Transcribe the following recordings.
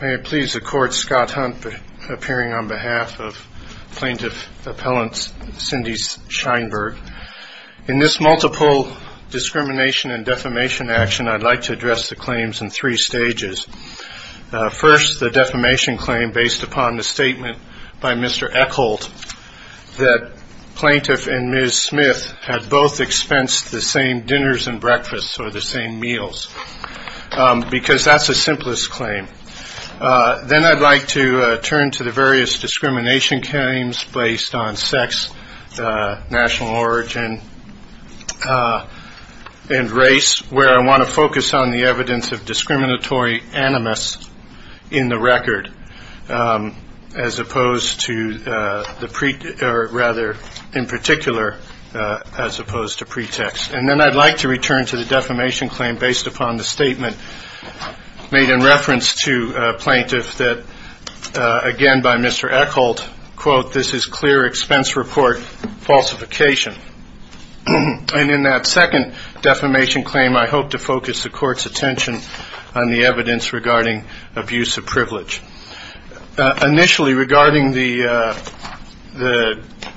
May it please the Court, Scott Hunt appearing on behalf of Plaintiff Appellant Cindy Scheinberg. In this multiple discrimination and defamation action, I'd like to address the claims in three stages. First, the defamation claim based upon the statement by Mr. Eckholt that Plaintiff and Ms. Smith had both expensed the same dinners and breakfasts or the same meals, because that's the simplest claim. Then I'd like to turn to the various discrimination claims based on sex, national origin, and race, where I want to focus on the evidence of discriminatory animus in the record as opposed to the pre- or rather, in particular, as opposed to pretext. And then I'd like to return to the defamation claim based upon the statement made in reference to Plaintiff that, again by Mr. Eckholt, quote, this is clear expense report falsification. And in that second defamation claim, I hope to focus the Court's attention on the evidence regarding abuse of privilege. Initially, regarding the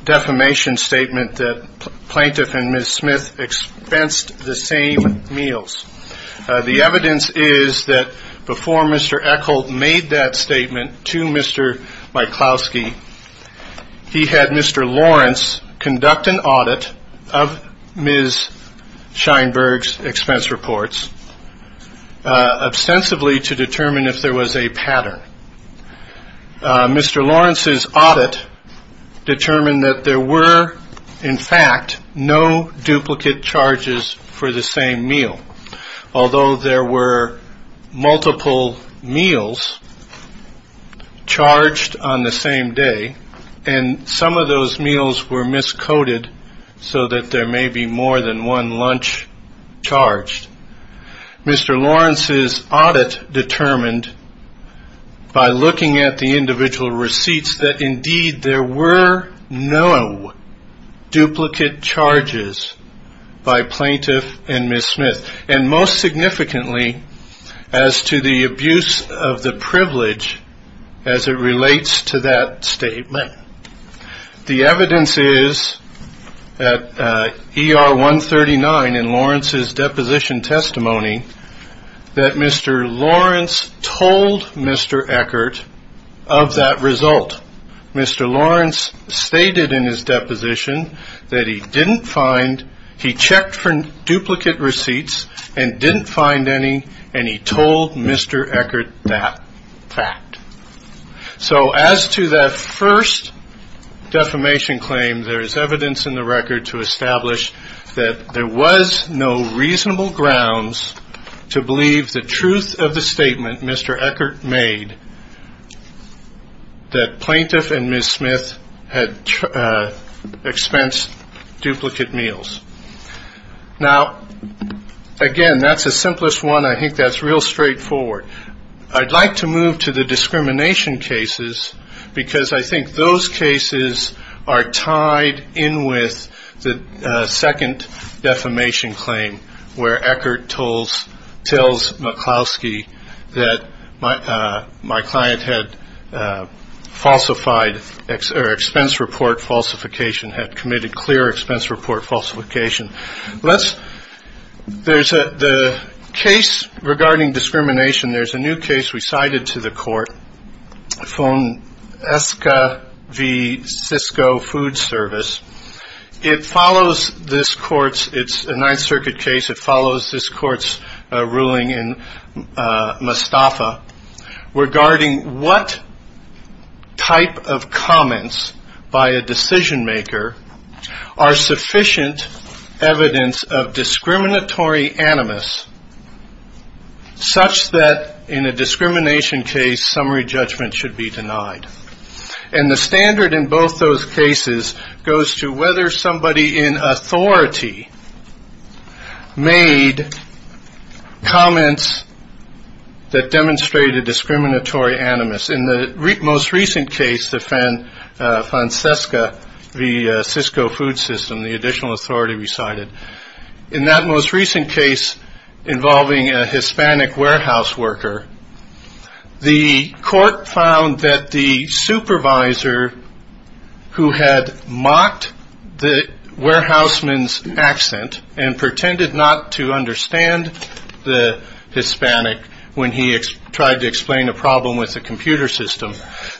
defamation statement that Plaintiff and Ms. Smith expensed the same meals, the evidence is that before Mr. Eckholt made that statement to Mr. Myklosky, he had Mr. Lawrence conduct an audit of Ms. Scheinberg's expense reports, ostensibly to determine if there was a pattern. Mr. Lawrence's audit determined that there were, in fact, no duplicate charges for the same meal, although there were multiple meals charged on the same day, and some of those meals were miscoded so that there may be more than one lunch charged. Mr. Lawrence's audit determined by looking at the individual receipts that, indeed, there were no duplicate charges by Plaintiff and Ms. Smith, and most significantly as to the abuse of the privilege as it relates to that statement. The evidence is at ER 139 in Lawrence's deposition testimony that Mr. Lawrence told Mr. Eckholt of that result. Mr. Lawrence stated in his deposition that he didn't find, he checked for duplicate receipts and didn't find any, and he told Mr. Eckholt that fact. So as to that first defamation claim, there is evidence in the record to establish that there was no reasonable grounds to believe the truth of the statement Mr. Eckholt made that Plaintiff and Ms. Smith had expensed duplicate meals. Now, again, that's the simplest one. I think that's real straightforward. I'd like to move to the discrimination cases because I think those cases are tied in with the second defamation claim, where Eckholt tells McCloskey that my client had falsified or expense report falsification, had committed clear expense report falsification. There's a case regarding discrimination. There's a new case recited to the court, Esca v. Cisco Food Service. It follows this court's, it's a Ninth Circuit case. It follows this court's ruling in Mostafa regarding what type of comments by a decision maker are sufficient evidence of discriminatory animus such that in a discrimination case, summary judgment should be denied. And the standard in both those cases goes to whether somebody in authority made comments that demonstrated discriminatory animus. In the most recent case, the Fancesca v. Cisco Food System, the additional authority recited, in that most recent case involving a Hispanic warehouse worker, the court found that the supervisor who had mocked the warehouseman's accent and pretended not to understand the Hispanic when he tried to explain a problem with the computer system,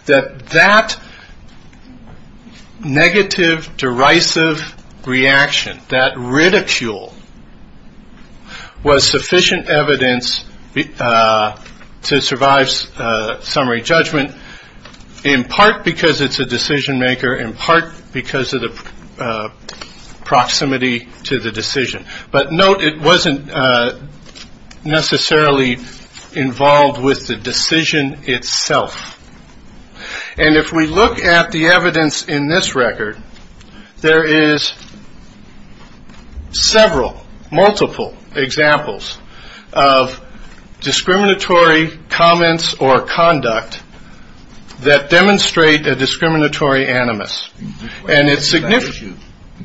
that that negative derisive reaction, that ridicule, was sufficient evidence to survive summary judgment, in part because it's a decision maker, in part because of the proximity to the decision. But note it wasn't necessarily involved with the decision itself. And if we look at the evidence in this record, there is several, multiple examples of discriminatory comments or conduct that demonstrate a discriminatory animus. And it's significant.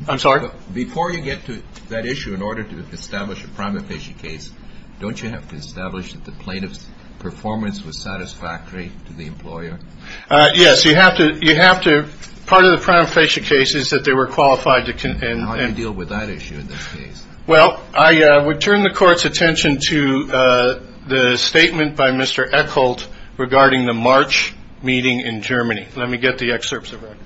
I'm sorry? Before you get to that issue, in order to establish a prima facie case, don't you have to establish that the plaintiff's performance was satisfactory to the employer? Yes. You have to. Part of the prima facie case is that they were qualified. How do you deal with that issue in this case? Well, I would turn the court's attention to the statement by Mr. Eckholt regarding the March meeting in Germany. Let me get the excerpts of that.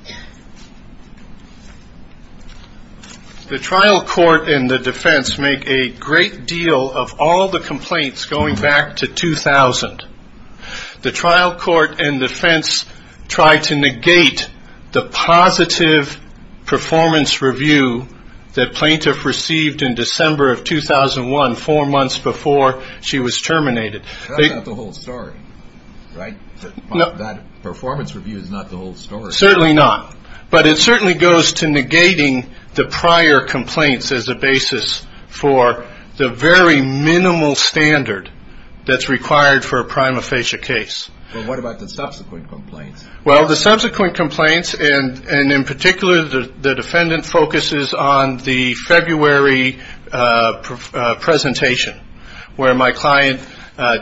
The trial court and the defense make a great deal of all the complaints going back to 2000. The trial court and defense tried to negate the positive performance review that plaintiff received in December of 2001, four months before she was terminated. That's not the whole story, right? That performance review is not the whole story. Certainly not. But it certainly goes to negating the prior complaints as a basis for the very minimal standard that's required for a prima facie case. What about the subsequent complaints? Well, the subsequent complaints, and in particular, the defendant focuses on the February presentation, where my client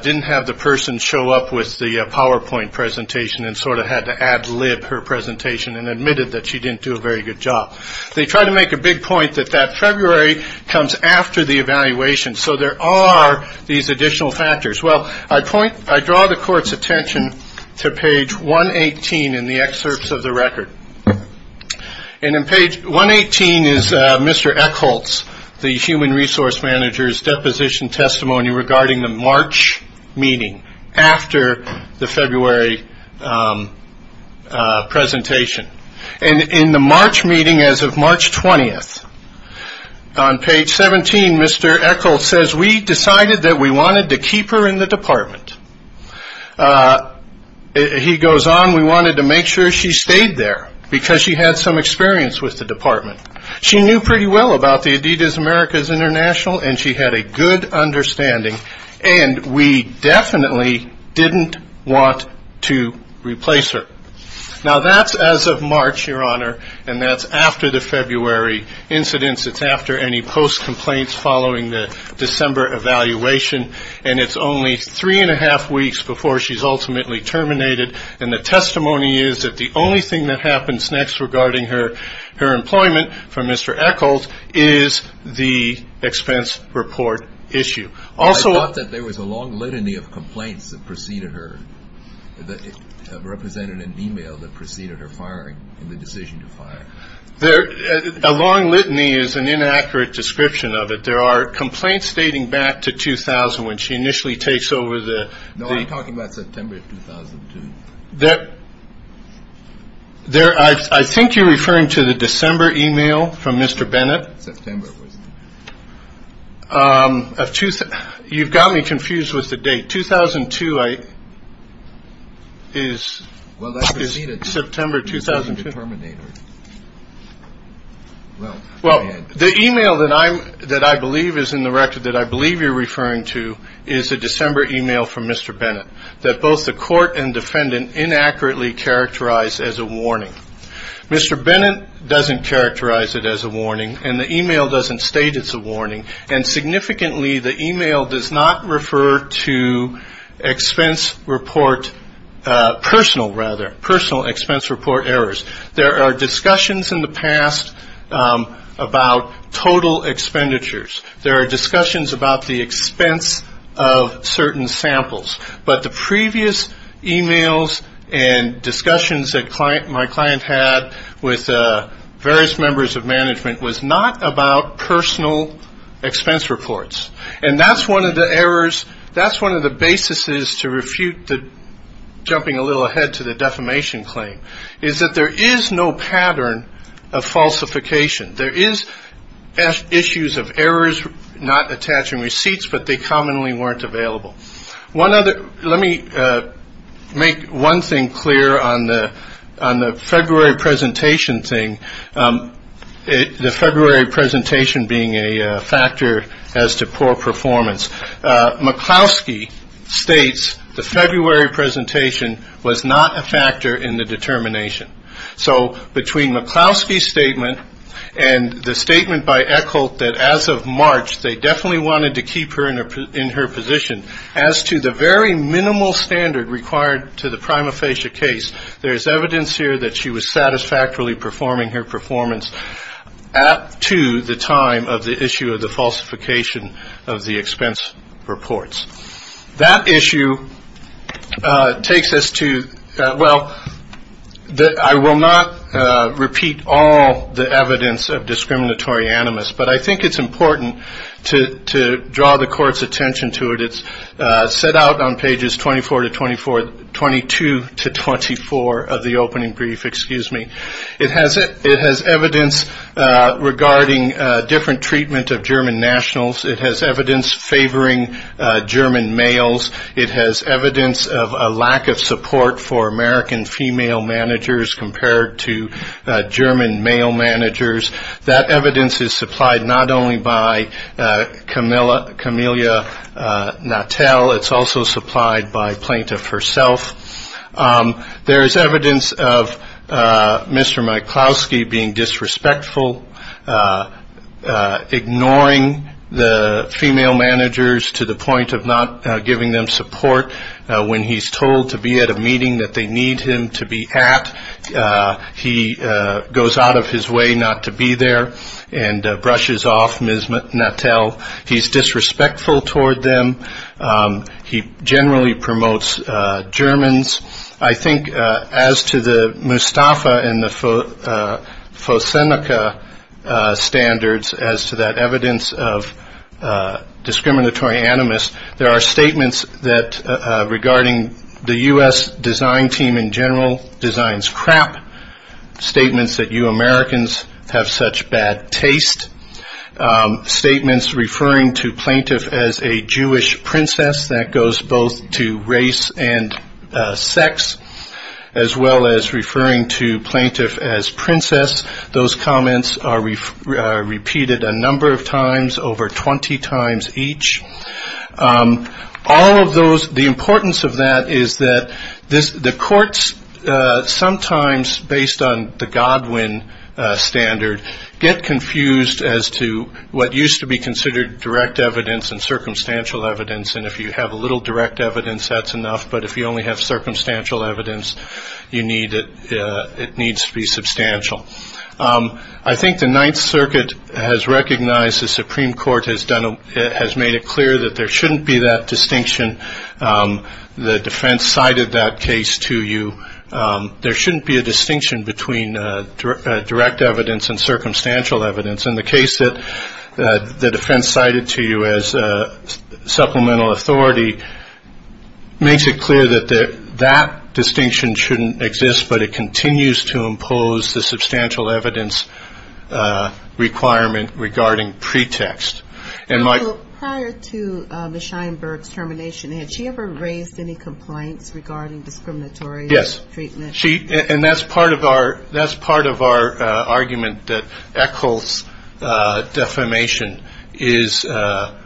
didn't have the person show up with the PowerPoint presentation and sort of had to ad lib her presentation and admitted that she didn't do a very good job. They tried to make a big point that that February comes after the evaluation. So there are these additional factors. Well, I draw the court's attention to page 118 in the excerpts of the record. And in page 118 is Mr. Eckholtz, the human resource manager's deposition testimony regarding the March meeting after the February presentation. And in the March meeting as of March 20th, on page 17, Mr. Eckholtz says, we decided that we wanted to keep her in the department. He goes on, we wanted to make sure she stayed there because she had some experience with the department. She knew pretty well about the Adidas Americas International, and she had a good understanding. And we definitely didn't want to replace her. Now, that's as of March, Your Honor, and that's after the February incidents. It's after any post-complaints following the December evaluation. And it's only three and a half weeks before she's ultimately terminated. And the testimony is that the only thing that happens next regarding her employment from Mr. Eckholtz is the expense report issue. I thought that there was a long litany of complaints that preceded her, that represented an e-mail that preceded her firing and the decision to fire. A long litany is an inaccurate description of it. But there are complaints dating back to 2000 when she initially takes over the- No, I'm talking about September 2002. I think you're referring to the December e-mail from Mr. Bennett. September, wasn't it? You've got me confused with the date. 2002 is- September 2002. Well, go ahead. The e-mail that I believe is in the record that I believe you're referring to is a December e-mail from Mr. Bennett, that both the court and defendant inaccurately characterized as a warning. Mr. Bennett doesn't characterize it as a warning, and the e-mail doesn't state it's a warning. And significantly, the e-mail does not refer to expense report personal, rather, personal expense report errors. There are discussions in the past about total expenditures. There are discussions about the expense of certain samples. But the previous e-mails and discussions that my client had with various members of management was not about personal expense reports. And that's one of the errors, that's one of the basis to refute the-jumping a little ahead to the defamation claim, is that there is no pattern of falsification. There is issues of errors not attaching receipts, but they commonly weren't available. One other-let me make one thing clear on the February presentation thing, the February presentation being a factor as to poor performance. McCloskey states the February presentation was not a factor in the determination. So between McCloskey's statement and the statement by Eckholt that as of March, they definitely wanted to keep her in her position, as to the very minimal standard required to the prima facie case, there is evidence here that she was satisfactorily performing her performance up to the time of the issue of the falsification of the expense reports. That issue takes us to-well, I will not repeat all the evidence of discriminatory animus, but I think it's important to draw the court's attention to it. It's set out on pages 24 to 24-22 to 24 of the opening brief, excuse me. It has evidence regarding different treatment of German nationals. It has evidence favoring German males. It has evidence of a lack of support for American female managers compared to German male managers. That evidence is supplied not only by Camilla Natel, it's also supplied by Plaintiff herself. There is evidence of Mr. McCloskey being disrespectful, ignoring the female managers to the point of not giving them support. When he's told to be at a meeting that they need him to be at, he goes out of his way not to be there and brushes off Ms. Natel. He's disrespectful toward them. He generally promotes Germans. I think as to the Mustafa and the Fosenica standards, as to that evidence of discriminatory animus, there are statements regarding the U.S. design team in general designs crap, statements that you Americans have such bad taste, statements referring to Plaintiff as a Jewish princess, that goes both to race and sex, as well as referring to Plaintiff as princess. Those comments are repeated a number of times, over 20 times each. All of those, the importance of that is that the courts sometimes, based on the Godwin standard, get confused as to what used to be considered direct evidence and circumstantial evidence. And if you have a little direct evidence, that's enough. But if you only have circumstantial evidence, it needs to be substantial. I think the Ninth Circuit has recognized the Supreme Court has made it clear that there shouldn't be that distinction. The defense cited that case to you. There shouldn't be a distinction between direct evidence and circumstantial evidence. And the case that the defense cited to you as supplemental authority makes it clear that that distinction shouldn't exist, but it continues to impose the substantial evidence requirement regarding pretext. Prior to Ms. Sheinberg's termination, had she ever raised any complaints regarding discriminatory treatment? Yes. And that's part of our argument, that Echols' defamation is for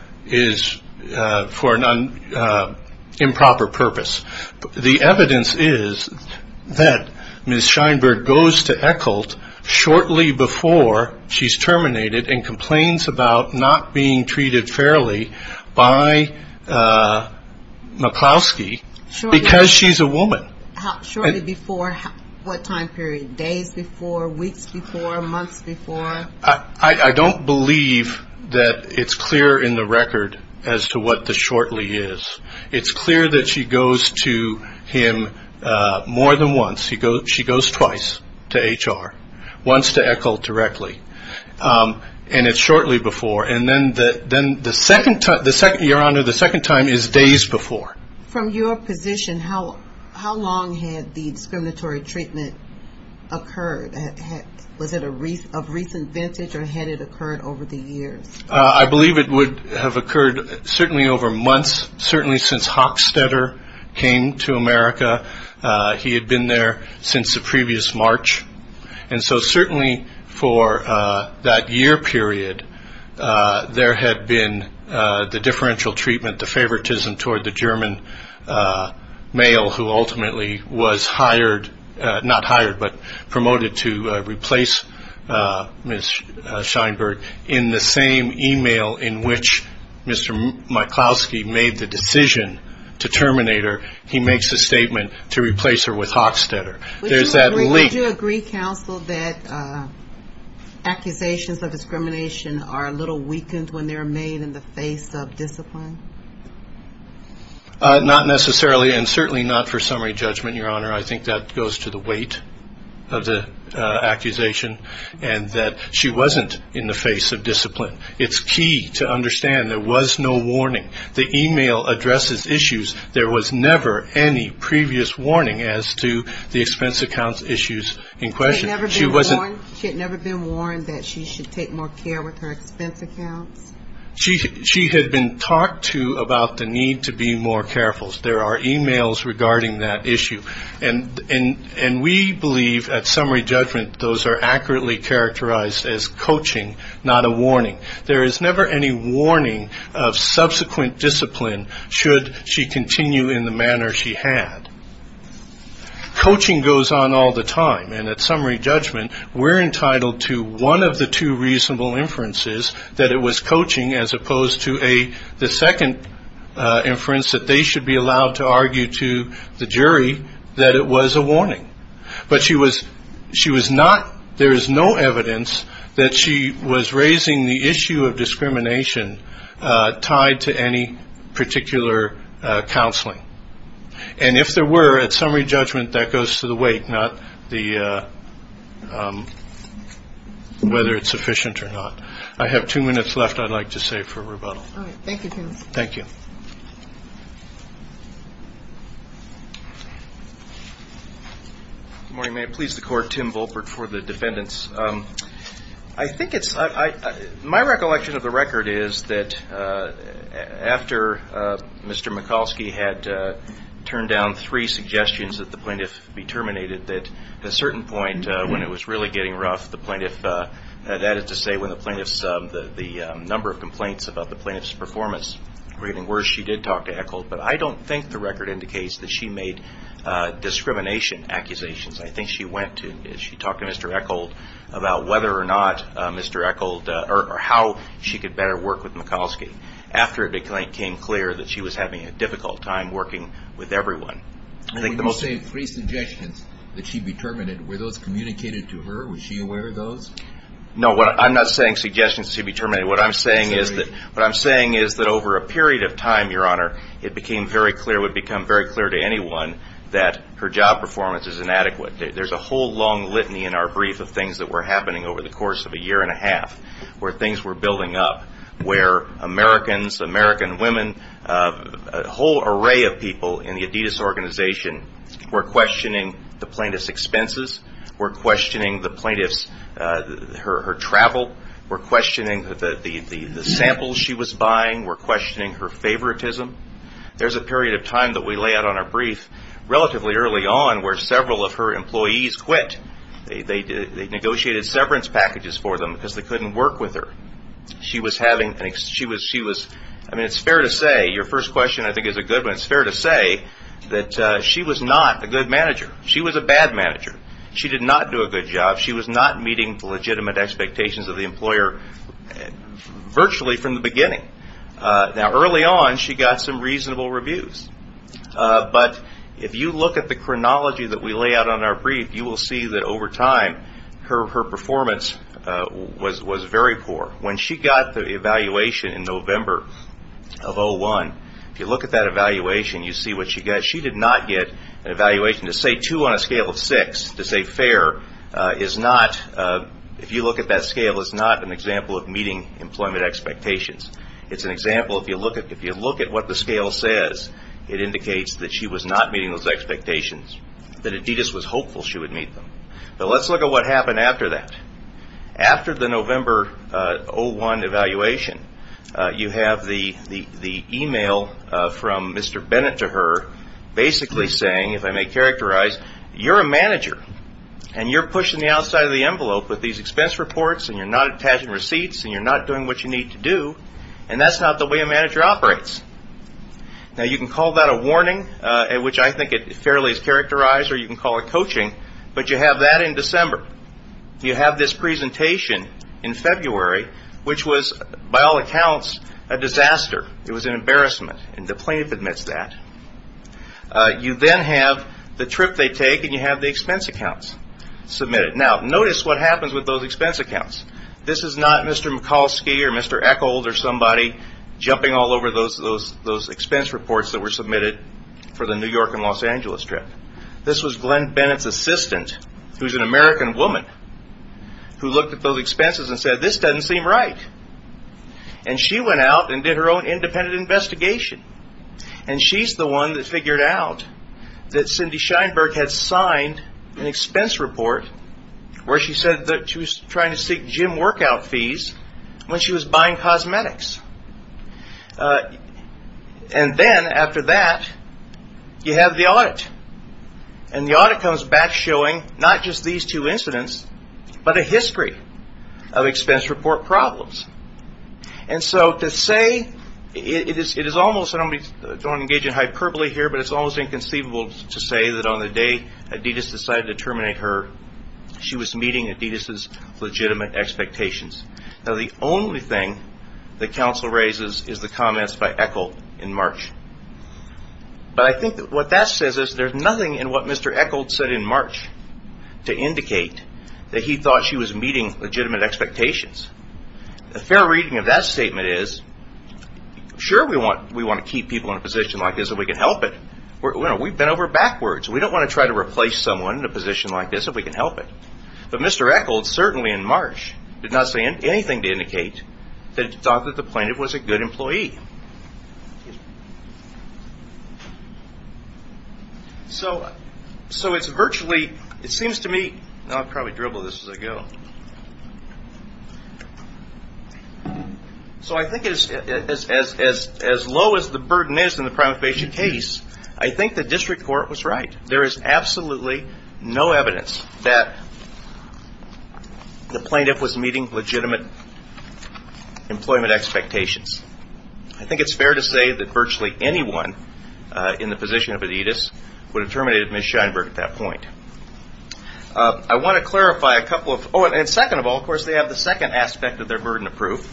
an improper purpose. The evidence is that Ms. Sheinberg goes to Echols shortly before she's terminated and complains about not being treated fairly by McCloskey because she's a woman. Shortly before what time period? Days before? Weeks before? Months before? I don't believe that it's clear in the record as to what the shortly is. It's clear that she goes to him more than once. She goes twice to HR. Once to Echols directly. And it's shortly before. And then the second time is days before. From your position, how long had the discriminatory treatment occurred? Was it of recent vintage or had it occurred over the years? I believe it would have occurred certainly over months, certainly since Hochstetter came to America. He had been there since the previous March. And so certainly for that year period, there had been the differential treatment, the favoritism toward the German male who ultimately was hired, not hired, but promoted to replace Ms. Sheinberg. In the same e-mail in which Mr. McCloskey made the decision to terminate her, he makes a statement to replace her with Hochstetter. Would you agree, counsel, that accusations of discrimination are a little weakened when they're made in the face of discipline? Not necessarily, and certainly not for summary judgment, Your Honor. I think that goes to the weight of the accusation and that she wasn't in the face of discipline. It's key to understand there was no warning. The e-mail addresses issues. There was never any previous warning as to the expense accounts issues in question. She had never been warned that she should take more care with her expense accounts? She had been talked to about the need to be more careful. There are e-mails regarding that issue. And we believe at summary judgment those are accurately characterized as coaching, not a warning. There is never any warning of subsequent discipline should she continue in the manner she had. Coaching goes on all the time. And at summary judgment we're entitled to one of the two reasonable inferences, that it was coaching as opposed to the second inference that they should be allowed to argue to the jury that it was a warning. But she was not ‑‑ there is no evidence that she was raising the issue of discrimination tied to any particular counseling. And if there were, at summary judgment that goes to the weight, not whether it's sufficient or not. I have two minutes left I'd like to save for rebuttal. All right. Thank you, Tim. Thank you. Good morning. May it please the Court, Tim Volpert for the defendants. My recollection of the record is that after Mr. Mikulski had turned down three suggestions that the plaintiff be terminated, that at a certain point when it was really getting rough, that is to say when the number of complaints about the plaintiff's performance were getting worse, she did talk to Eckhold. But I don't think the record indicates that she made discrimination accusations. I think she went to ‑‑ she talked to Mr. Eckhold about whether or not Mr. Eckhold or how she could better work with Mikulski after it became clear that she was having a difficult time working with everyone. When you say three suggestions that she be terminated, were those communicated to her? Was she aware of those? No, I'm not saying suggestions to be terminated. What I'm saying is that over a period of time, Your Honor, it became very clear, would become very clear to anyone that her job performance is inadequate. There's a whole long litany in our brief of things that were happening over the course of a year and a half, where things were building up, where Americans, American women, a whole array of people in the Adidas organization were questioning the plaintiff's expenses, were questioning the plaintiff's ‑‑ her travel, were questioning the samples she was buying, were questioning her favoritism. There's a period of time that we lay out on our brief relatively early on where several of her employees quit. They negotiated severance packages for them because they couldn't work with her. She was having ‑‑ she was ‑‑ I mean, it's fair to say, your first question I think is a good one. It's fair to say that she was not a good manager. She was a bad manager. She did not do a good job. She was not meeting the legitimate expectations of the employer virtually from the beginning. Now, early on, she got some reasonable reviews. But if you look at the chronology that we lay out on our brief, you will see that over time her performance was very poor. When she got the evaluation in November of 01, if you look at that evaluation, you see what she got. She did not get an evaluation. To say two on a scale of six, to say fair, is not, if you look at that scale, is not an example of meeting employment expectations. It's an example, if you look at what the scale says, it indicates that she was not meeting those expectations, that Adidas was hopeful she would meet them. But let's look at what happened after that. After the November 01 evaluation, you have the e-mail from Mr. Bennett to her, basically saying, if I may characterize, you're a manager, and you're pushing the outside of the envelope with these expense reports, and you're not attaching receipts, and you're not doing what you need to do, and that's not the way a manager operates. Now, you can call that a warning, which I think fairly is characterized, or you can call it coaching, but you have that in December. You have this presentation in February, which was, by all accounts, a disaster. It was an embarrassment, and DePlain admits that. You then have the trip they take, and you have the expense accounts submitted. Now, notice what happens with those expense accounts. This is not Mr. Mikulski or Mr. Eckhold or somebody jumping all over those expense reports that were submitted for the New York and Los Angeles trip. This was Glenn Bennett's assistant, who's an American woman, who looked at those expenses and said, this doesn't seem right. And she went out and did her own independent investigation, and she's the one that figured out that Cindy Scheinberg had signed an expense report where she said that she was trying to seek gym workout fees when she was buying cosmetics. And then, after that, you have the audit. And the audit comes back showing not just these two incidents, but a history of expense report problems. And so, to say, it is almost, I don't want to engage in hyperbole here, but it's almost inconceivable to say that on the day Adidas decided to terminate her, she was meeting Adidas's legitimate expectations. Now, the only thing that counsel raises is the comments by Eckhold in March. But I think what that says is there's nothing in what Mr. Eckhold said in March to indicate that he thought she was meeting legitimate expectations. A fair reading of that statement is, sure, we want to keep people in a position like this if we can help it. We've been over backwards. We don't want to try to replace someone in a position like this if we can help it. But Mr. Eckhold, certainly in March, did not say anything to indicate that he thought that the plaintiff was a good employee. So, it's virtually, it seems to me, I'll probably dribble this as I go. So, I think as low as the burden is in the prima facie case, I think the district court was right. There is absolutely no evidence that the plaintiff was meeting legitimate employment expectations. I think it's fair to say that virtually anyone in the position of Adidas would have terminated Ms. Scheinberg at that point. I want to clarify a couple of, oh, and second of all, of course, they have the second aspect of their burden of proof.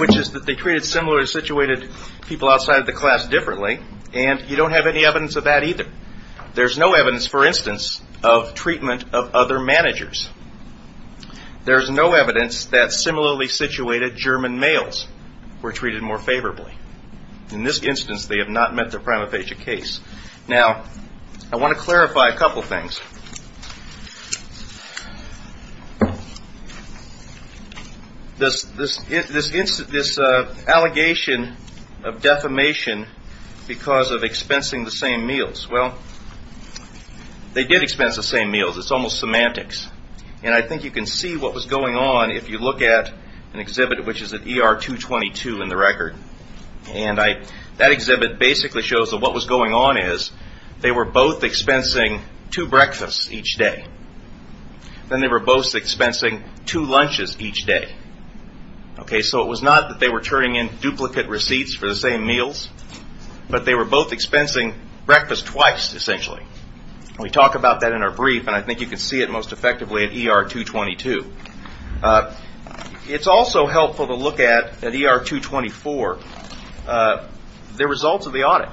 Which is that they treated similarly situated people outside of the class differently, and you don't have any evidence of that either. There's no evidence, for instance, of treatment of other managers. There's no evidence that similarly situated German males were treated more favorably. In this instance, they have not met their prima facie case. Now, I want to clarify a couple of things. First, this allegation of defamation because of expensing the same meals. Well, they did expense the same meals. It's almost semantics. And I think you can see what was going on if you look at an exhibit which is at ER 222 in the record. And that exhibit basically shows that what was going on is they were both expensing two breakfasts each day. Then they were both expensing two lunches each day. So it was not that they were turning in duplicate receipts for the same meals, but they were both expensing breakfast twice, essentially. We talk about that in our brief, and I think you can see it most effectively at ER 222. It's also helpful to look at, at ER 224, the results of the audit.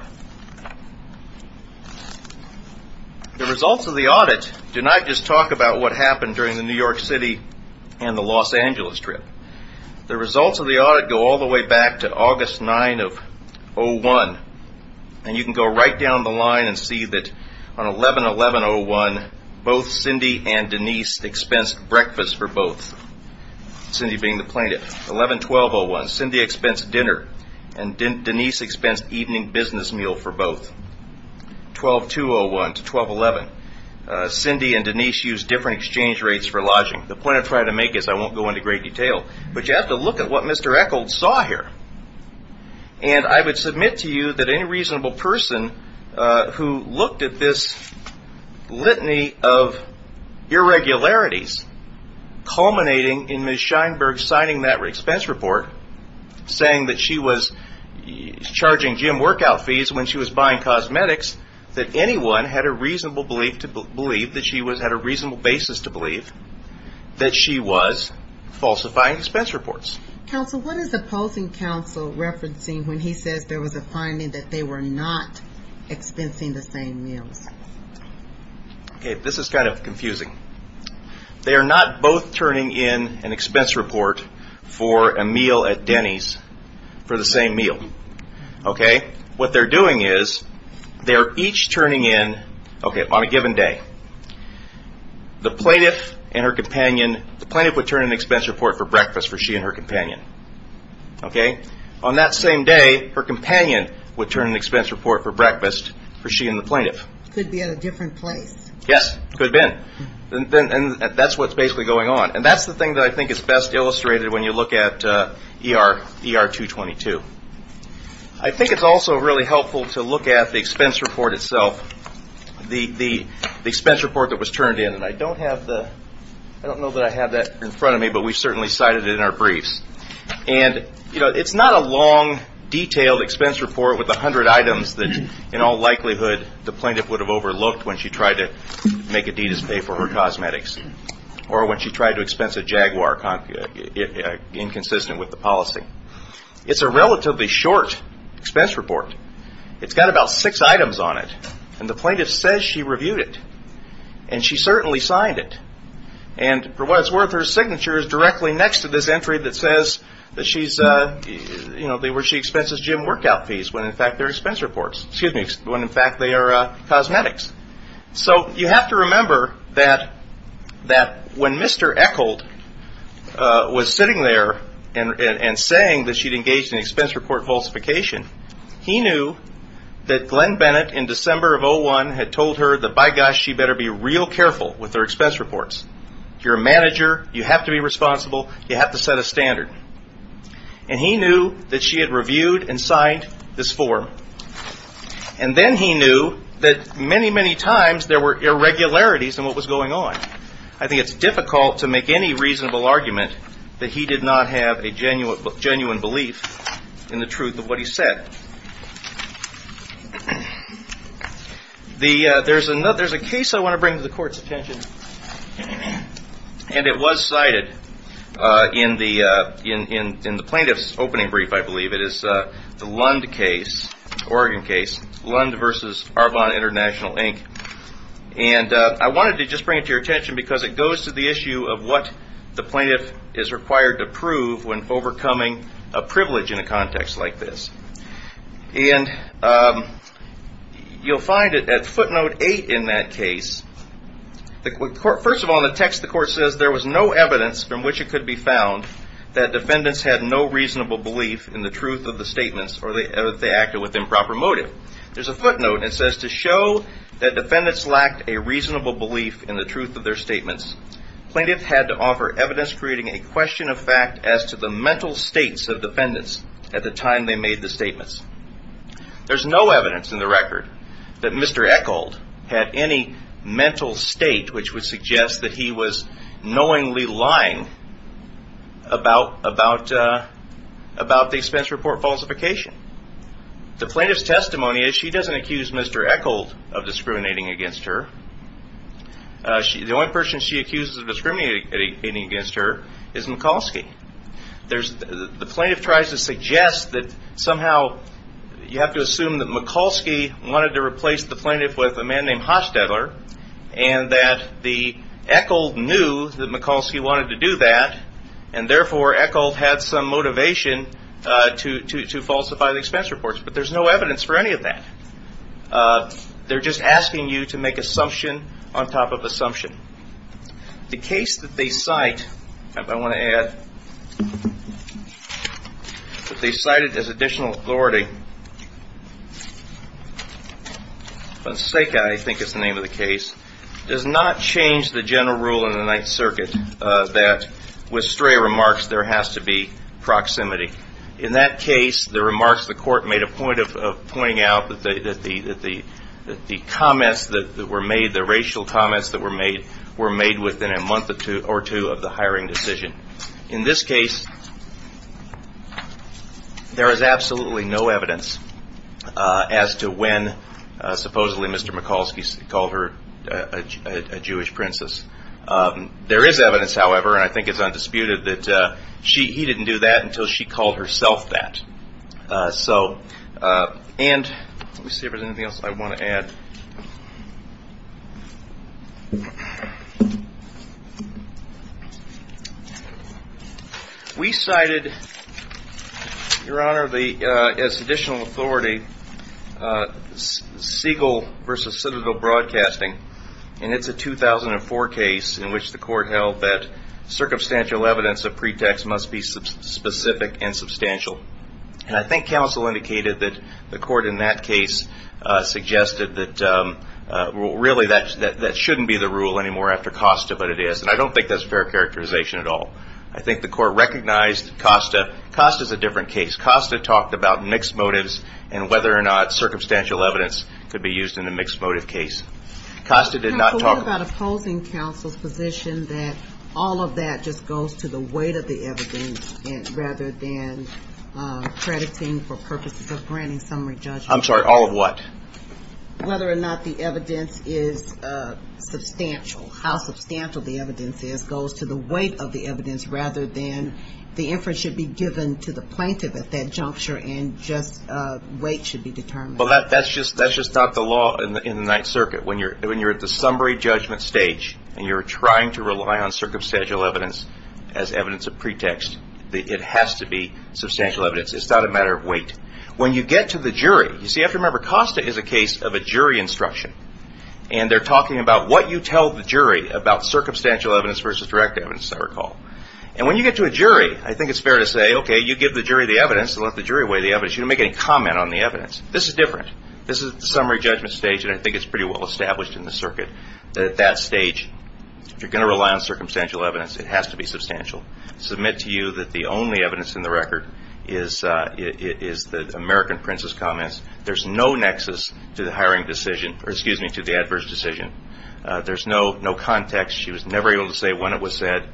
The results of the audit do not just talk about what happened during the New York City and the Los Angeles trip. The results of the audit go all the way back to August 9 of 2001. And you can go right down the line and see that on 11-11-01, both Cindy and Denise expensed breakfast for both. Cindy being the plaintiff. 11-12-01, Cindy expensed dinner, and Denise expensed evening business meal for both. 12-2-01 to 12-11, Cindy and Denise used different exchange rates for lodging. The point I'm trying to make is I won't go into great detail, but you have to look at what Mr. Eccles saw here. And I would submit to you that any reasonable person who looked at this litany of irregularities, culminating in Ms. Sheinberg signing that expense report, saying that she was charging gym workout fees when she was buying cosmetics, that anyone had a reasonable basis to believe that she was falsifying expense reports. Counsel, what is opposing counsel referencing when he says there was a finding that they were not expensing the same meals? This is kind of confusing. They are not both turning in an expense report for a meal at Denny's for the same meal. What they're doing is they're each turning in on a given day. The plaintiff and her companion, the plaintiff would turn in an expense report for breakfast for she and her companion. On that same day, her companion would turn in an expense report for breakfast for she and the plaintiff. Could be at a different place. Yes, could have been. And that's what's basically going on. And that's the thing that I think is best illustrated when you look at ER-222. I think it's also really helpful to look at the expense report itself, the expense report that was turned in. And I don't have the – I don't know that I have that in front of me, but we certainly cited it in our briefs. And, you know, it's not a long, detailed expense report with 100 items that, in all likelihood, the plaintiff would have overlooked when she tried to make Adidas pay for her cosmetics or when she tried to expense a Jaguar inconsistent with the policy. It's a relatively short expense report. It's got about six items on it. And the plaintiff says she reviewed it. And she certainly signed it. And for what it's worth, her signature is directly next to this entry that says that she's, you know, where she expenses gym workout fees when, in fact, they're expense reports. Excuse me, when, in fact, they are cosmetics. So you have to remember that when Mr. Eckhold was sitting there and saying that she'd engaged in expense report falsification, he knew that Glenn Bennett in December of 2001 had told her that, by gosh, she better be real careful with her expense reports. You're a manager. You have to be responsible. You have to set a standard. And he knew that she had reviewed and signed this form. And then he knew that many, many times there were irregularities in what was going on. I think it's difficult to make any reasonable argument that he did not have a genuine belief in the truth of what he said. There's a case I want to bring to the Court's attention. And it was cited in the plaintiff's opening brief, I believe. It is the Lund case, Oregon case, Lund v. Arbonne International, Inc. And I wanted to just bring it to your attention because it goes to the issue of what the plaintiff is required to prove when overcoming a privilege in a context like this. And you'll find at footnote 8 in that case, first of all, in the text the Court says, there was no evidence from which it could be found that defendants had no reasonable belief in the truth of the statements or that they acted with improper motive. There's a footnote. It says, to show that defendants lacked a reasonable belief in the truth of their statements, plaintiff had to offer evidence creating a question of fact as to the mental states of defendants at the time they made the statements. There's no evidence in the record that Mr. Echold had any mental state which would suggest that he was knowingly lying about the expense report falsification. The plaintiff's testimony is she doesn't accuse Mr. Echold of discriminating against her. The only person she accuses of discriminating against her is Mikulski. The plaintiff tries to suggest that somehow you have to assume that Mikulski wanted to replace the plaintiff with a man named Hostetler and that the Echold knew that Mikulski wanted to do that and therefore Echold had some motivation to falsify the expense reports. But there's no evidence for any of that. They're just asking you to make assumption on top of assumption. The case that they cite, if I want to add, that they cited as additional authority, Bonseca I think is the name of the case, does not change the general rule in the Ninth Circuit that with stray remarks there has to be proximity. In that case, the remarks the court made a point of pointing out that the comments that were made, the racial comments that were made, were made within a month or two of the hiring decision. In this case, there is absolutely no evidence as to when supposedly Mr. Mikulski called her a Jewish princess. There is evidence, however, and I think it's undisputed that he didn't do that until she called herself that. And let me see if there's anything else I want to add. We cited, Your Honor, as additional authority, Siegel v. Citadel Broadcasting, and it's a 2004 case in which the court held that circumstantial evidence of pretext must be specific and substantial. And I think counsel indicated that the court in that case suggested that really that shouldn't be the rule anymore after Costa, but it is, and I don't think that's fair characterization at all. I think the court recognized Costa. Costa's a different case. Costa talked about mixed motives and whether or not circumstantial evidence could be used in a mixed motive case. Costa did not talk about opposing counsel's position that all of that just goes to the weight of the evidence rather than crediting for purposes of granting summary judgment. I'm sorry, all of what? Whether or not the evidence is substantial, how substantial the evidence is, goes to the weight of the evidence rather than the inference should be given to the plaintiff at that juncture and just weight should be determined. Well, that's just not the law in the Ninth Circuit. When you're at the summary judgment stage and you're trying to rely on circumstantial evidence as evidence of pretext, it has to be substantial evidence. It's not a matter of weight. When you get to the jury, you see, you have to remember Costa is a case of a jury instruction, and they're talking about what you tell the jury about circumstantial evidence versus direct evidence, as I recall. And when you get to a jury, I think it's fair to say, okay, you give the jury the evidence and let the jury weigh the evidence. You don't make any comment on the evidence. This is different. This is the summary judgment stage, and I think it's pretty well established in the circuit that at that stage, if you're going to rely on circumstantial evidence, it has to be substantial. Submit to you that the only evidence in the record is the American Prince's comments. There's no nexus to the hiring decision, or excuse me, to the adverse decision. There's no context. She was never able to say when it was said,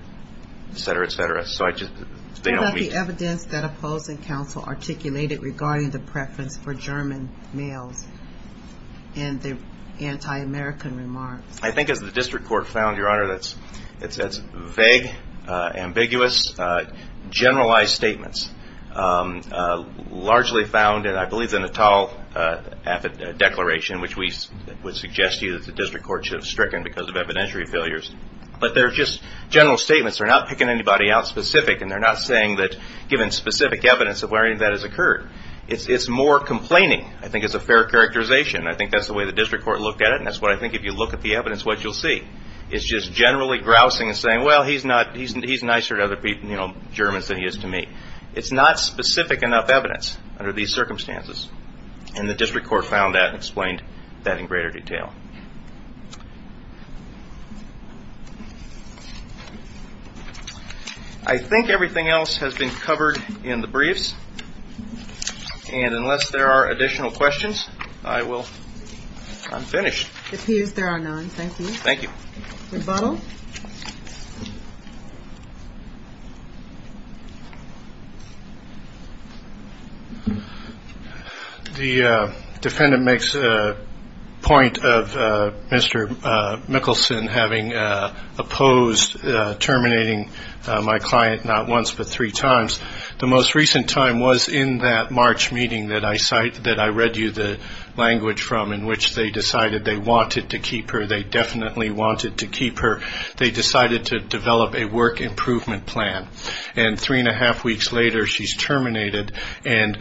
et cetera, et cetera. What about the evidence that opposing counsel articulated regarding the preference for German males and the anti-American remarks? I think as the district court found, Your Honor, that's vague, ambiguous, generalized statements. Largely found, I believe, in the Natal Declaration, which we would suggest to you that the district court should have stricken because of evidentiary failures. But they're just general statements. They're not picking anybody out specific, and they're not saying that given specific evidence of where any of that has occurred. It's more complaining, I think, is a fair characterization. I think that's the way the district court looked at it, and that's what I think if you look at the evidence, what you'll see. It's just generally grousing and saying, well, he's nicer to other Germans than he is to me. It's not specific enough evidence under these circumstances, and the district court found that and explained that in greater detail. I think everything else has been covered in the briefs, and unless there are additional questions, I'm finished. If he is, there are none. Thank you. Thank you. Rebuttal? The defendant makes a point of Mr. Mickelson having opposed terminating my client not once but three times. The most recent time was in that March meeting that I read you the language from, in which they decided they wanted to keep her. They definitely wanted to keep her. They decided to develop a work improvement plan, and three-and-a-half weeks later, she's terminated. And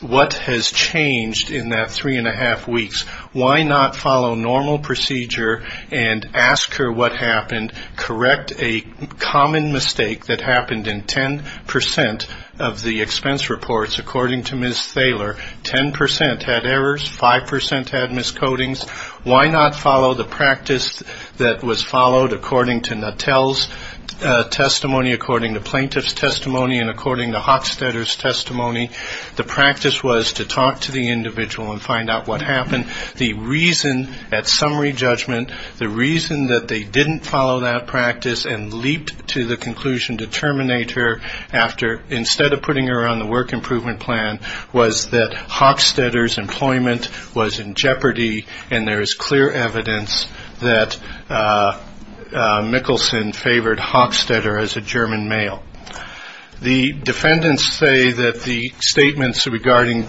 what has changed in that three-and-a-half weeks? Why not follow normal procedure and ask her what happened, correct a common mistake that happened in 10% of the expense reports, according to Ms. Thaler, 10% had errors, 5% had miscodings? Why not follow the practice that was followed according to Natel's testimony, according to plaintiff's testimony, and according to Hochstetter's testimony? The practice was to talk to the individual and find out what happened. The reason at summary judgment, the reason that they didn't follow that practice and leaped to the conclusion to terminate her after, instead of putting her on the work improvement plan, was that Hochstetter's employment was in jeopardy, and there is clear evidence that Mickelson favored Hochstetter as a German male. The defendants say that the statements regarding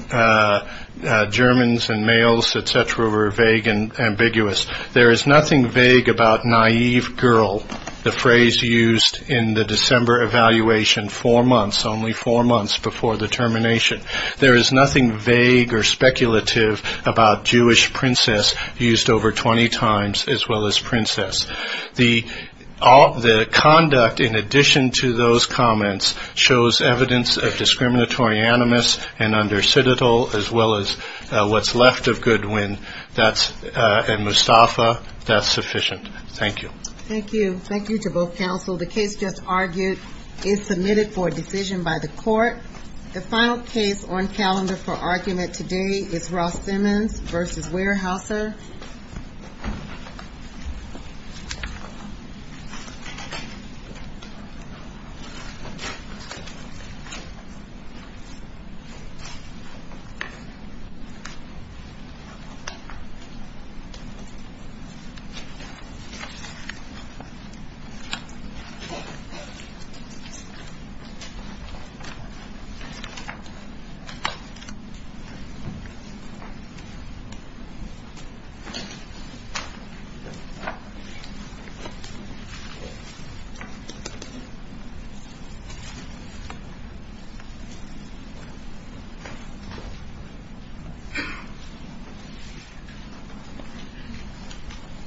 Germans and males, et cetera, were vague and ambiguous. There is nothing vague about naïve girl, the phrase used in the December evaluation four months, only four months before the termination. There is nothing vague or speculative about Jewish princess, used over 20 times, as well as princess. The conduct, in addition to those comments, shows evidence of discriminatory animus, and under Citadel, as well as what's left of Goodwin and Mustafa, that's sufficient. Thank you. Thank you. Thank you to both counsel. The case just argued is submitted for decision by the court. The final case on calendar for argument today is Ross Simmons v. Weyerhaeuser.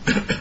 Thank you. Thank you.